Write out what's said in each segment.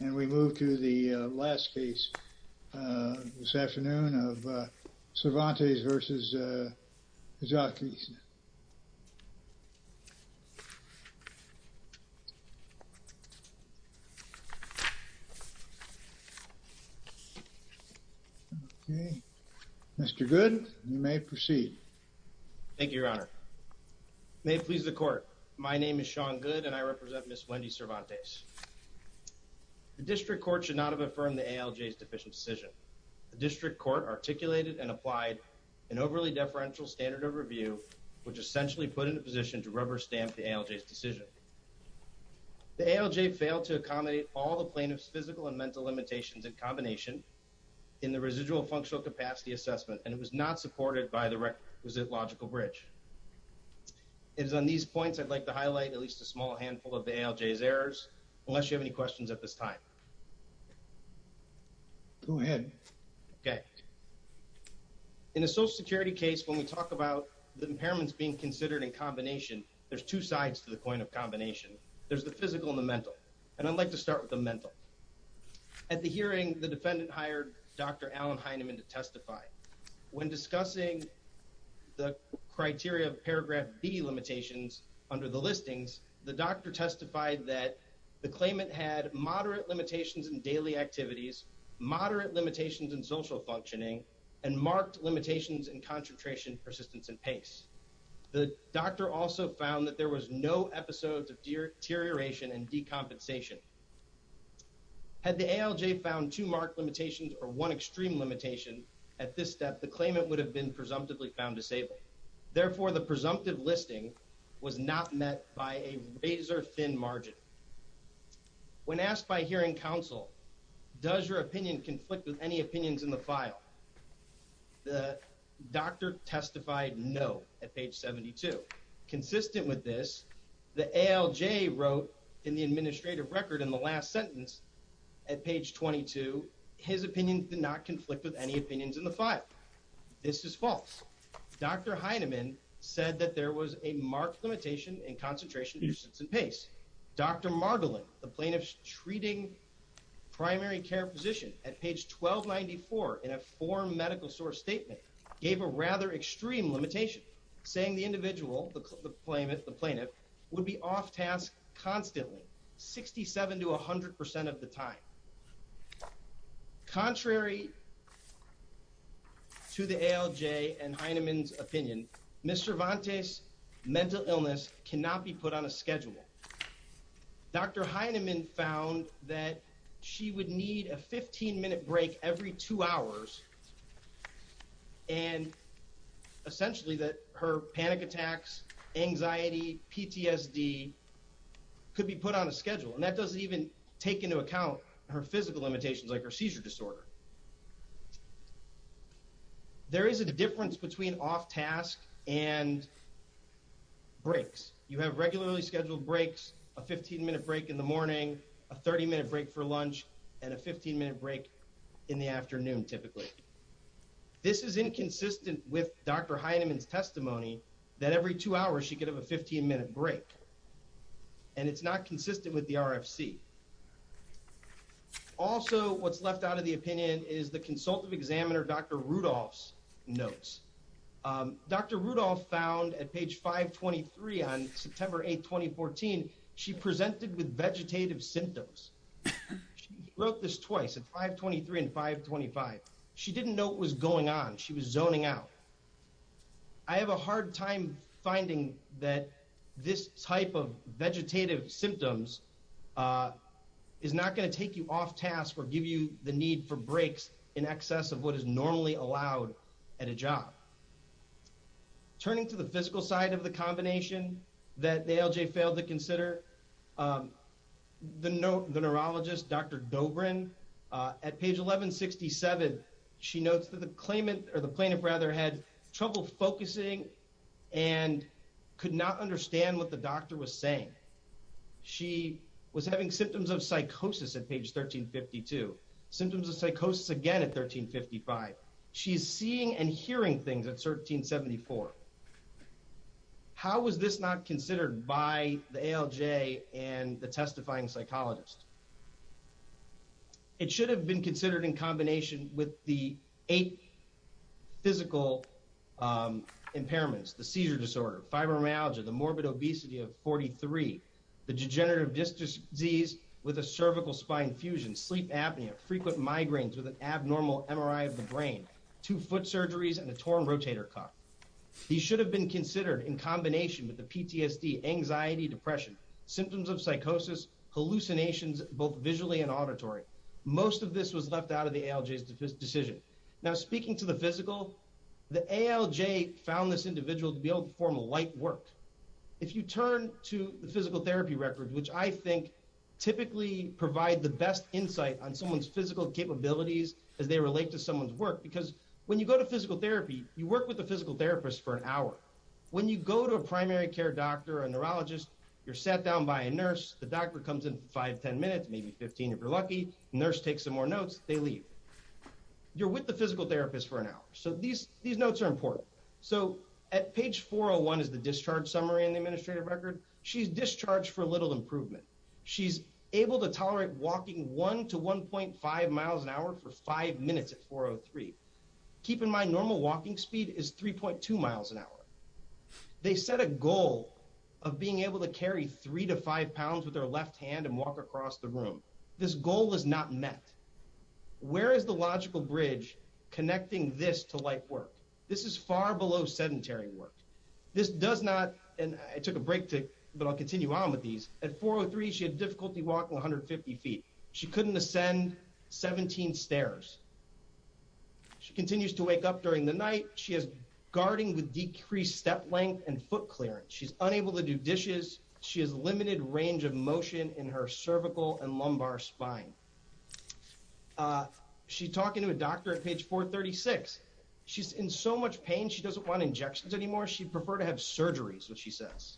and we move to the last case this afternoon of Cervantes v. Kijakazi Mr. Good you may proceed. Thank you your honor. May it please the court my name is The district court should not have affirmed the ALJ's deficient decision. The district court articulated and applied an overly deferential standard of review which essentially put into position to rubber stamp the ALJ's decision. The ALJ failed to accommodate all the plaintiff's physical and mental limitations in combination in the residual functional capacity assessment and it was not supported by the requisite logical bridge. It is on these points I'd like to this time. Go ahead. Okay in a social security case when we talk about the impairments being considered in combination there's two sides to the coin of combination. There's the physical and the mental and I'd like to start with the mental. At the hearing the defendant hired Dr. Allen Heineman to testify. When discussing the criteria of paragraph b limitations under the listings the doctor testified that the claimant had moderate limitations in daily activities, moderate limitations in social functioning and marked limitations in concentration persistence and pace. The doctor also found that there was no episodes of deterioration and decompensation. Had the ALJ found two marked limitations or one extreme limitation at this step the claimant would have been presumptively found disabled. Therefore the presumptive listing was not met by a razor thin margin. When asked by hearing counsel does your opinion conflict with any opinions in the file the doctor testified no at page 72. Consistent with this the ALJ wrote in the administrative record in the last sentence at page 22 his opinion did not conflict with any opinions in the file. This is false. Dr. Heineman said that there was a marked limitation in concentration persistence and pace. Dr. Margolin the plaintiff's treating primary care physician at page 1294 in a form medical source statement gave a rather extreme limitation saying the individual the plaintiff would be off task constantly 67 to 100 percent of the time. Contrary to the ALJ and Heineman's opinion, Ms. Cervantes' mental illness cannot be put on a schedule. Dr. Heineman found that she would need a 15 minute break every two hours and essentially that her panic attacks, anxiety, PTSD could be put on a schedule and that doesn't take into account her physical limitations like her seizure disorder. There is a difference between off task and breaks. You have regularly scheduled breaks, a 15 minute break in the morning, a 30 minute break for lunch and a 15 minute break in the afternoon typically. This is inconsistent with Dr. Heineman's testimony that every two hours she could have a 15 minute break and it's not consistent with the RFC. Also what's left out of the opinion is the consultative examiner Dr. Rudolph's notes. Dr. Rudolph found at page 523 on September 8, 2014 she presented with vegetative symptoms. She wrote this twice at 523 and 525. She didn't know what was going on. She was zoning out. I have a hard time finding that this type of vegetative symptoms is not going to take you off task or give you the need for breaks in excess of what is normally allowed at a job. Turning to the physical side of the combination that the ALJ failed to consider, the neurologist Dr. Dobrin at page 1167 she notes that the claimant or the plaintiff rather had trouble focusing and could not understand what the doctor was saying. She was having symptoms of psychosis at page 1352. Symptoms of psychosis again at 1355. She's seeing and hearing things at 1374. How was this not considered by the ALJ and the testifying psychologist? It should have been considered in combination with the eight physical impairments, the seizure disorder, fibromyalgia, the morbid obesity of 43, the degenerative disc disease with a cervical spine fusion, sleep apnea, frequent migraines with an abnormal MRI of the brain, two foot surgeries and a torn rotator cuff. These should have been considered in combination with the PTSD, anxiety, depression, symptoms of psychosis, hallucinations both visually and auditory. Most of this was left out of the ALJ's decision. Now speaking to the physical, the ALJ found this individual to be able to perform light work. If you turn to the physical therapy record which I think typically provide the best insight on someone's physical capabilities as they relate to someone's work because when you go to physical therapy, you work with the physical therapist for an hour. When you go to a primary care doctor, a neurologist, you're sat down by a nurse, the doctor comes in 5-10 minutes, maybe 15 if you're lucky, nurse takes some more notes, they leave. You're with the physical therapist for an hour. So these notes are important. So at page 401 is the discharge summary in the administrative record. She's discharged for little improvement. She's able to walk at 4.03. Keep in mind normal walking speed is 3.2 miles an hour. They set a goal of being able to carry 3-5 pounds with her left hand and walk across the room. This goal is not met. Where is the logical bridge connecting this to light work? This is far below sedentary work. This does not, and I took a break to, but I'll continue on with these. At 4.03 she had difficulty walking 150 feet. She couldn't ascend 17 stairs. She continues to wake up during the night. She has guarding with decreased step length and foot clearance. She's unable to do dishes. She has limited range of motion in her cervical and lumbar spine. She's talking to a doctor at page 436. She's in so much pain she doesn't want injections anymore. She'd prefer to have surgeries, which she says.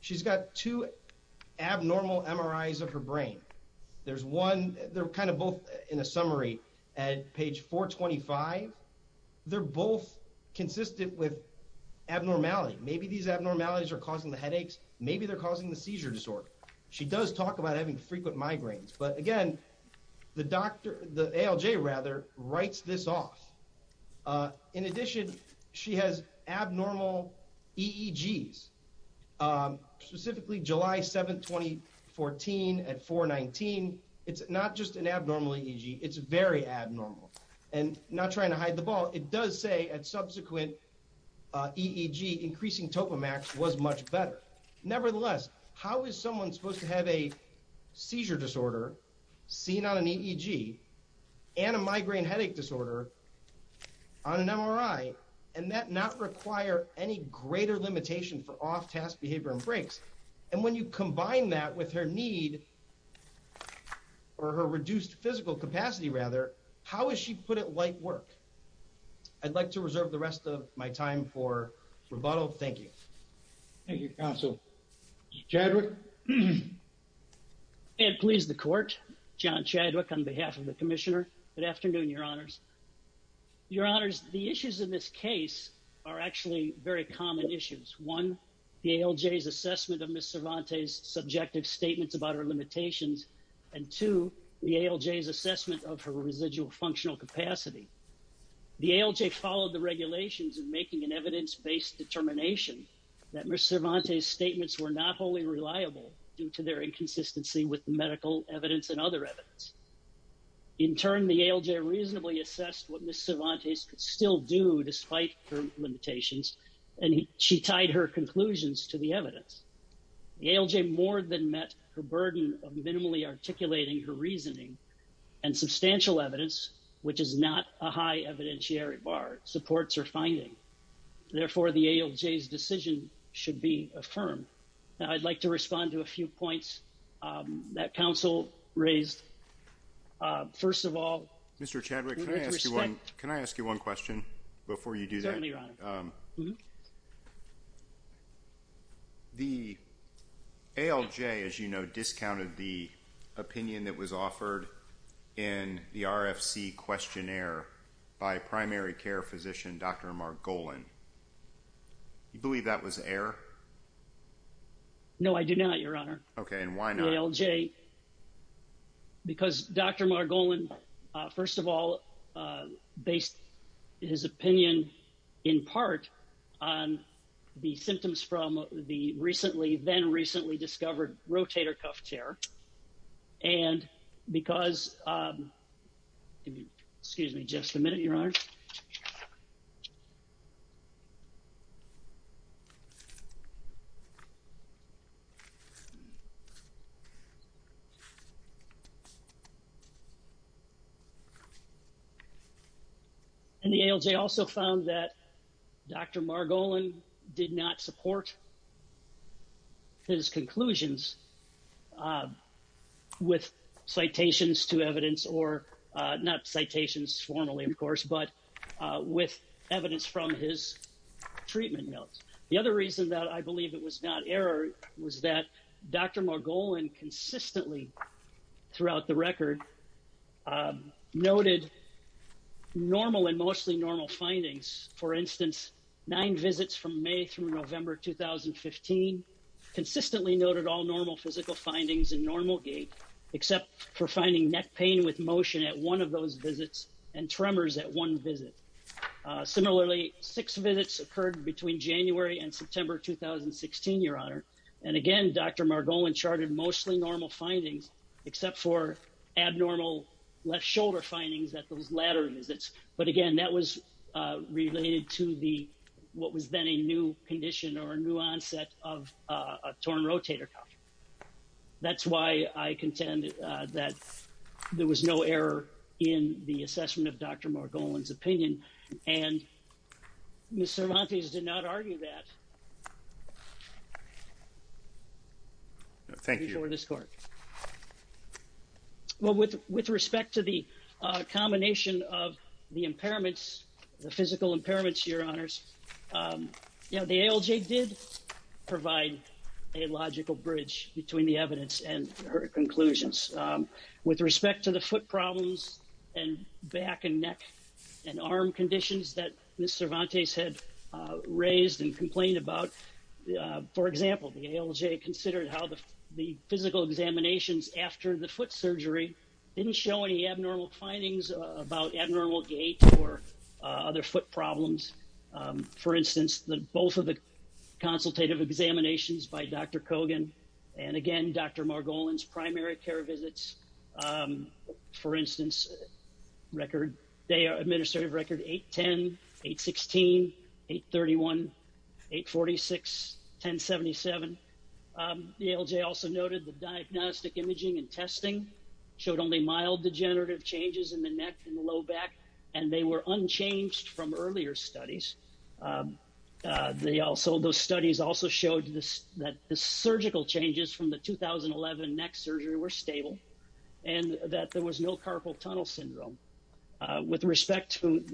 She's got two abnormal MRIs of her brain. There's one, they're kind of both in a summary at page 425. They're both consistent with abnormality. Maybe these abnormalities are causing the headaches. Maybe they're causing the seizure disorder. She does talk about having frequent migraines, but again the doctor, the ALJ rather, writes this off. In addition, she has abnormal EEGs. Specifically, July 7, 2014 at 4.19, it's not just an abnormal EEG, it's very abnormal. Not trying to hide the ball, it does say at subsequent EEG increasing topomax was much better. Nevertheless, how is someone supposed to have a seizure disorder seen on an EEG and a migraine headache disorder on an MRI and that not require any greater limitation for off task behavior and breaks? And when you combine that with her need or her reduced physical capacity rather, how is she put at light work? I'd like to reserve the rest of my time for rebuttal. Thank you. Thank you, counsel. Chadwick. May it please the court. John Chadwick on behalf of the commissioner. Good afternoon, your honors. Your honors, the issues in this case are actually very common issues. One, the ALJ's assessment of Ms. Cervantes' subjective statements about her limitations. And two, the ALJ's assessment of her residual functional capacity. The ALJ followed the regulations in making an evidence-based determination that Ms. Cervantes' statements were not wholly reliable due to their inconsistency with medical evidence and other evidence. In turn, the ALJ reasonably assessed what Ms. Cervantes could still do despite her limitations and she tied her conclusions to the evidence. The ALJ more than met her burden of minimally articulating her reasoning and substantial evidence, which is not a high evidentiary bar, supports her finding. Therefore, the ALJ's decision should be affirmed. Now, I'd like to respond to a few points that counsel raised. First of all, Mr. Chadwick, can I ask you one question before you do that? Certainly, your honor. The ALJ, as you know, discounted the Dr. Margolin. You believe that was error? No, I do not, your honor. Okay, and why not? The ALJ, because Dr. Margolin, first of all, based his opinion in part on the symptoms from the recently, then recently discovered rotator cuff tear. And because, excuse me just a minute, your honor, the ALJ also found that Dr. Margolin did not support his conclusions with citations to evidence or not citations formally, of course, but with evidence from his treatment notes. The other reason that I believe it was not error was that Dr. Margolin consistently throughout the record noted normal and mostly normal findings. For instance, nine visits from physical findings in normal gait, except for finding neck pain with motion at one of those visits and tremors at one visit. Similarly, six visits occurred between January and September 2016, your honor. And again, Dr. Margolin charted mostly normal findings, except for abnormal left shoulder findings at those latter visits. But again, that was related to what was then a condition or a new onset of a torn rotator cuff. That's why I contend that there was no error in the assessment of Dr. Margolin's opinion. And Ms. Cervantes did not argue that. Thank you for this court. Well, with respect to the combination of the impairments, the physical impairments, your honors, the ALJ did provide a logical bridge between the evidence and her conclusions. With respect to the foot problems and back and neck and arm conditions that Ms. Cervantes had raised and complained about, for example, the ALJ considered how the physical examinations after the foot surgery didn't show any abnormal findings about abnormal gait or other foot problems. For instance, the both of the consultative examinations by Dr. Kogan and again, Dr. Margolin's primary care visits, for instance, record, they are administrative record 810, 816, 831, 846, 1077. The ALJ also noted the diagnostic imaging and testing showed only mild degenerative changes in the neck and low back, and they were unchanged from earlier studies. They also, those studies also showed that the surgical changes from the 2011 neck surgery were stable and that there was no carpal tunnel syndrome. With respect to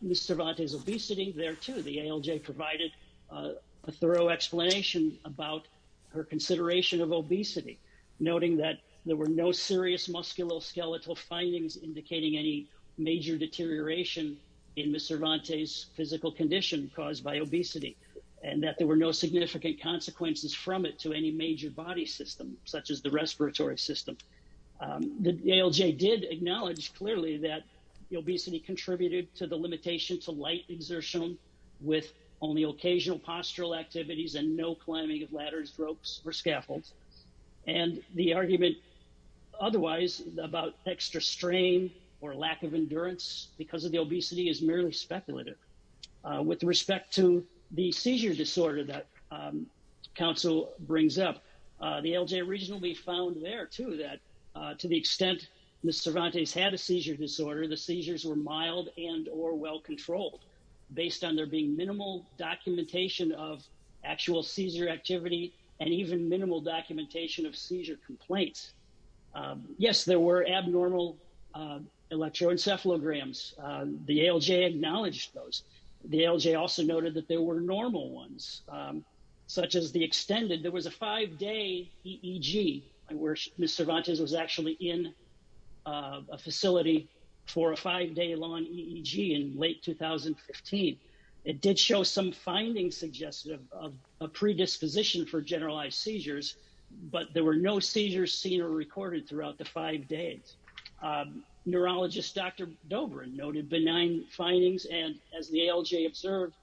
Ms. Cervantes obesity, there too, the ALJ provided a thorough explanation about her consideration of obesity, noting that there were no serious musculoskeletal findings indicating any major deterioration in Ms. Cervantes physical condition caused by obesity, and that there were no significant consequences from it to any major body system, such as the respiratory system. The ALJ did acknowledge clearly that the obesity contributed to the limitation to light exertion with only and the argument otherwise about extra strain or lack of endurance because of the obesity is merely speculative. With respect to the seizure disorder that counsel brings up, the ALJ originally found there too that to the extent Ms. Cervantes had a seizure disorder, the seizures were mild and or well controlled based on there being minimal documentation of actual seizure activity and even minimal documentation of seizure complaints. Yes, there were abnormal electroencephalograms. The ALJ acknowledged those. The ALJ also noted that there were normal ones, such as the extended, there was a five-day EEG where Ms. Cervantes was actually in a facility for a five-day long EEG in late 2015. It did show some findings suggest a predisposition for generalized seizures, but there were no seizures seen or recorded throughout the five days. Neurologist Dr. Dobrin noted benign findings and as the ALJ observed,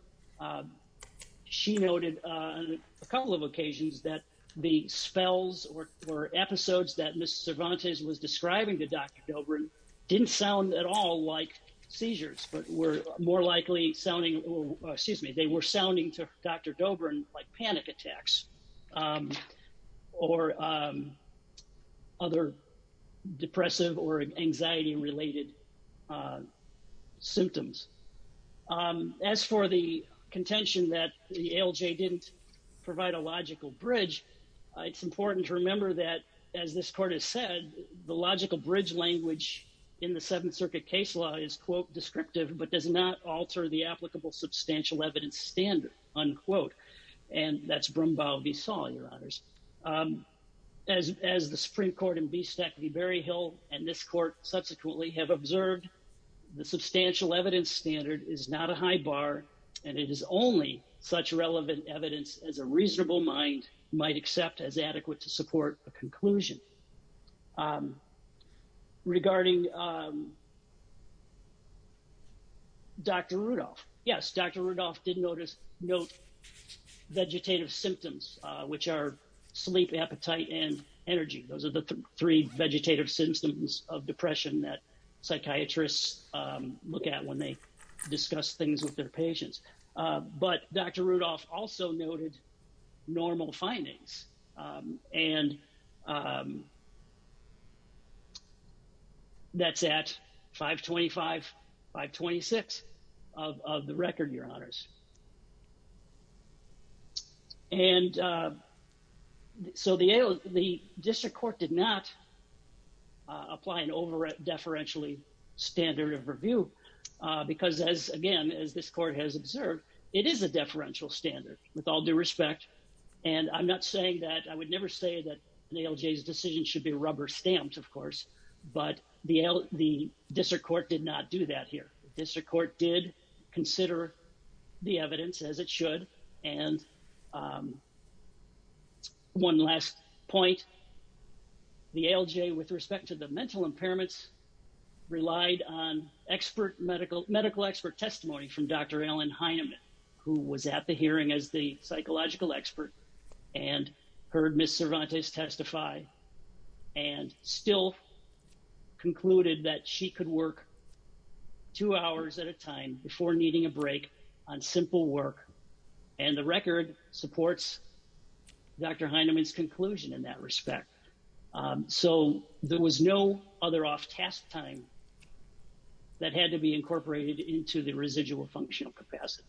she noted on a couple of occasions that the spells or episodes that Ms. Cervantes was hearing did not sound at all like seizures, but were more likely sounding, excuse me, they were sounding to Dr. Dobrin like panic attacks or other depressive or anxiety-related symptoms. As for the contention that the ALJ didn't provide a logical bridge, it's important to remember that, as this court has said, the logical bridge language in the Seventh Circuit case law is, quote, descriptive, but does not alter the applicable substantial evidence standard, unquote. And that's Brumbau v. Saul, Your Honors. As the Supreme Court and V. Stack v. Berryhill and this court subsequently have observed, the substantial evidence standard is not a high bar, and it is only such relevant evidence as a reasonable mind might accept as adequate to support a conclusion. Regarding Dr. Rudolph, yes, Dr. Rudolph did note vegetative symptoms, which are sleep, appetite, and energy. Those are the three vegetative symptoms of depression that but Dr. Rudolph also noted normal findings, and that's at 525, 526 of the record, Your Honors. And so the district court did not apply an over-deferentially standard of review, because as, again, as this court has observed, it is a deferential standard with all due respect, and I'm not saying that, I would never say that the ALJ's decision should be rubber stamped, of course, but the district court did not do that here. The district court did consider the evidence as it should, and one last point, the ALJ, with respect to the mental impairments, relied on medical expert testimony from Dr. Ellen Heineman, who was at the hearing as the psychological expert, and heard Ms. Cervantes testify, and still concluded that she could work two hours at a time before needing a break on simple work, and the record supports Dr. Heineman's task time that had to be incorporated into the residual functional capacity.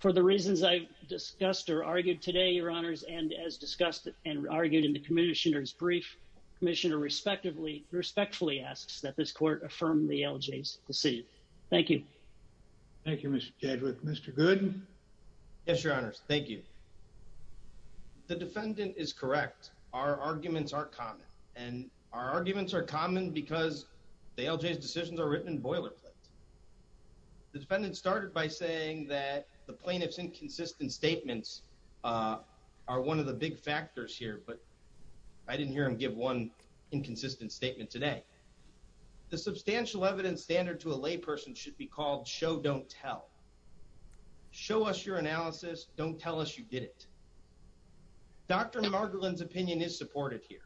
For the reasons I've discussed or argued today, Your Honors, and as discussed and argued in the Commissioner's brief, Commissioner respectfully asks that this court affirm the ALJ's decision. Thank you. Thank you, Mr. Chadwick. Mr. Gooden? Yes, Your Honors. Thank you. The defendant is common because the ALJ's decisions are written in boilerplate. The defendant started by saying that the plaintiff's inconsistent statements are one of the big factors here, but I didn't hear him give one inconsistent statement today. The substantial evidence standard to a layperson should be called show, don't tell. Show us your analysis, don't tell us you didn't. Dr. Margolin's opinion is supported here.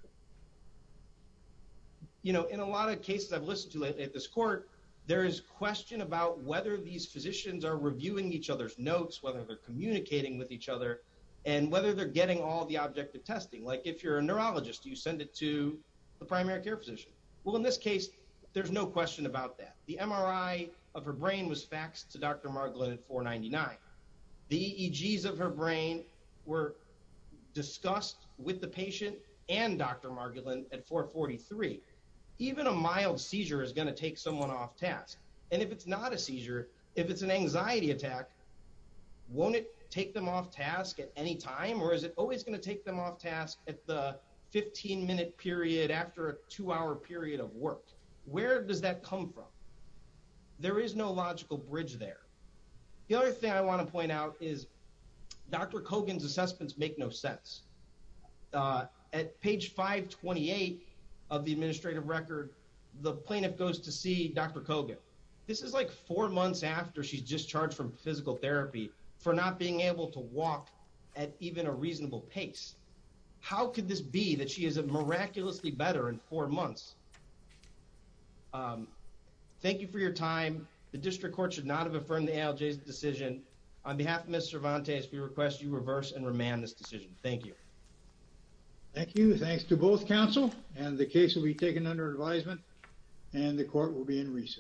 You know, in a lot of cases I've listened to at this court, there is question about whether these physicians are reviewing each other's notes, whether they're communicating with each other, and whether they're getting all the objective testing. Like if you're a neurologist, do you send it to the primary care physician? Well, in this case, there's no question about that. The MRI of her brain was faxed to Dr. Margolin at 499. The EEGs of her brain were discussed with the patient and Dr. Margolin at 443. Even a mild seizure is going to take someone off task. And if it's not a seizure, if it's an anxiety attack, won't it take them off task at any time? Or is it always going to take them off task at the 15-minute period after a two-hour period of work? Where does that come from? There is no logical bridge there. The other thing I want to point out is Dr. Kogan's assessments make no sense. At page 528 of the administrative record, the plaintiff goes to see Dr. Kogan. This is like four months after she's discharged from physical therapy for not being able to walk at even a reasonable pace. How could this be that she is miraculously better in four months? Thank you for your time. The district court should not have affirmed the ALJ's decision. On behalf of Ms. Cervantes, we request you reverse and remand this decision. Thank you. Thank you. Thanks to both counsel. And the case will be taken under advisement, and the court will be in recess.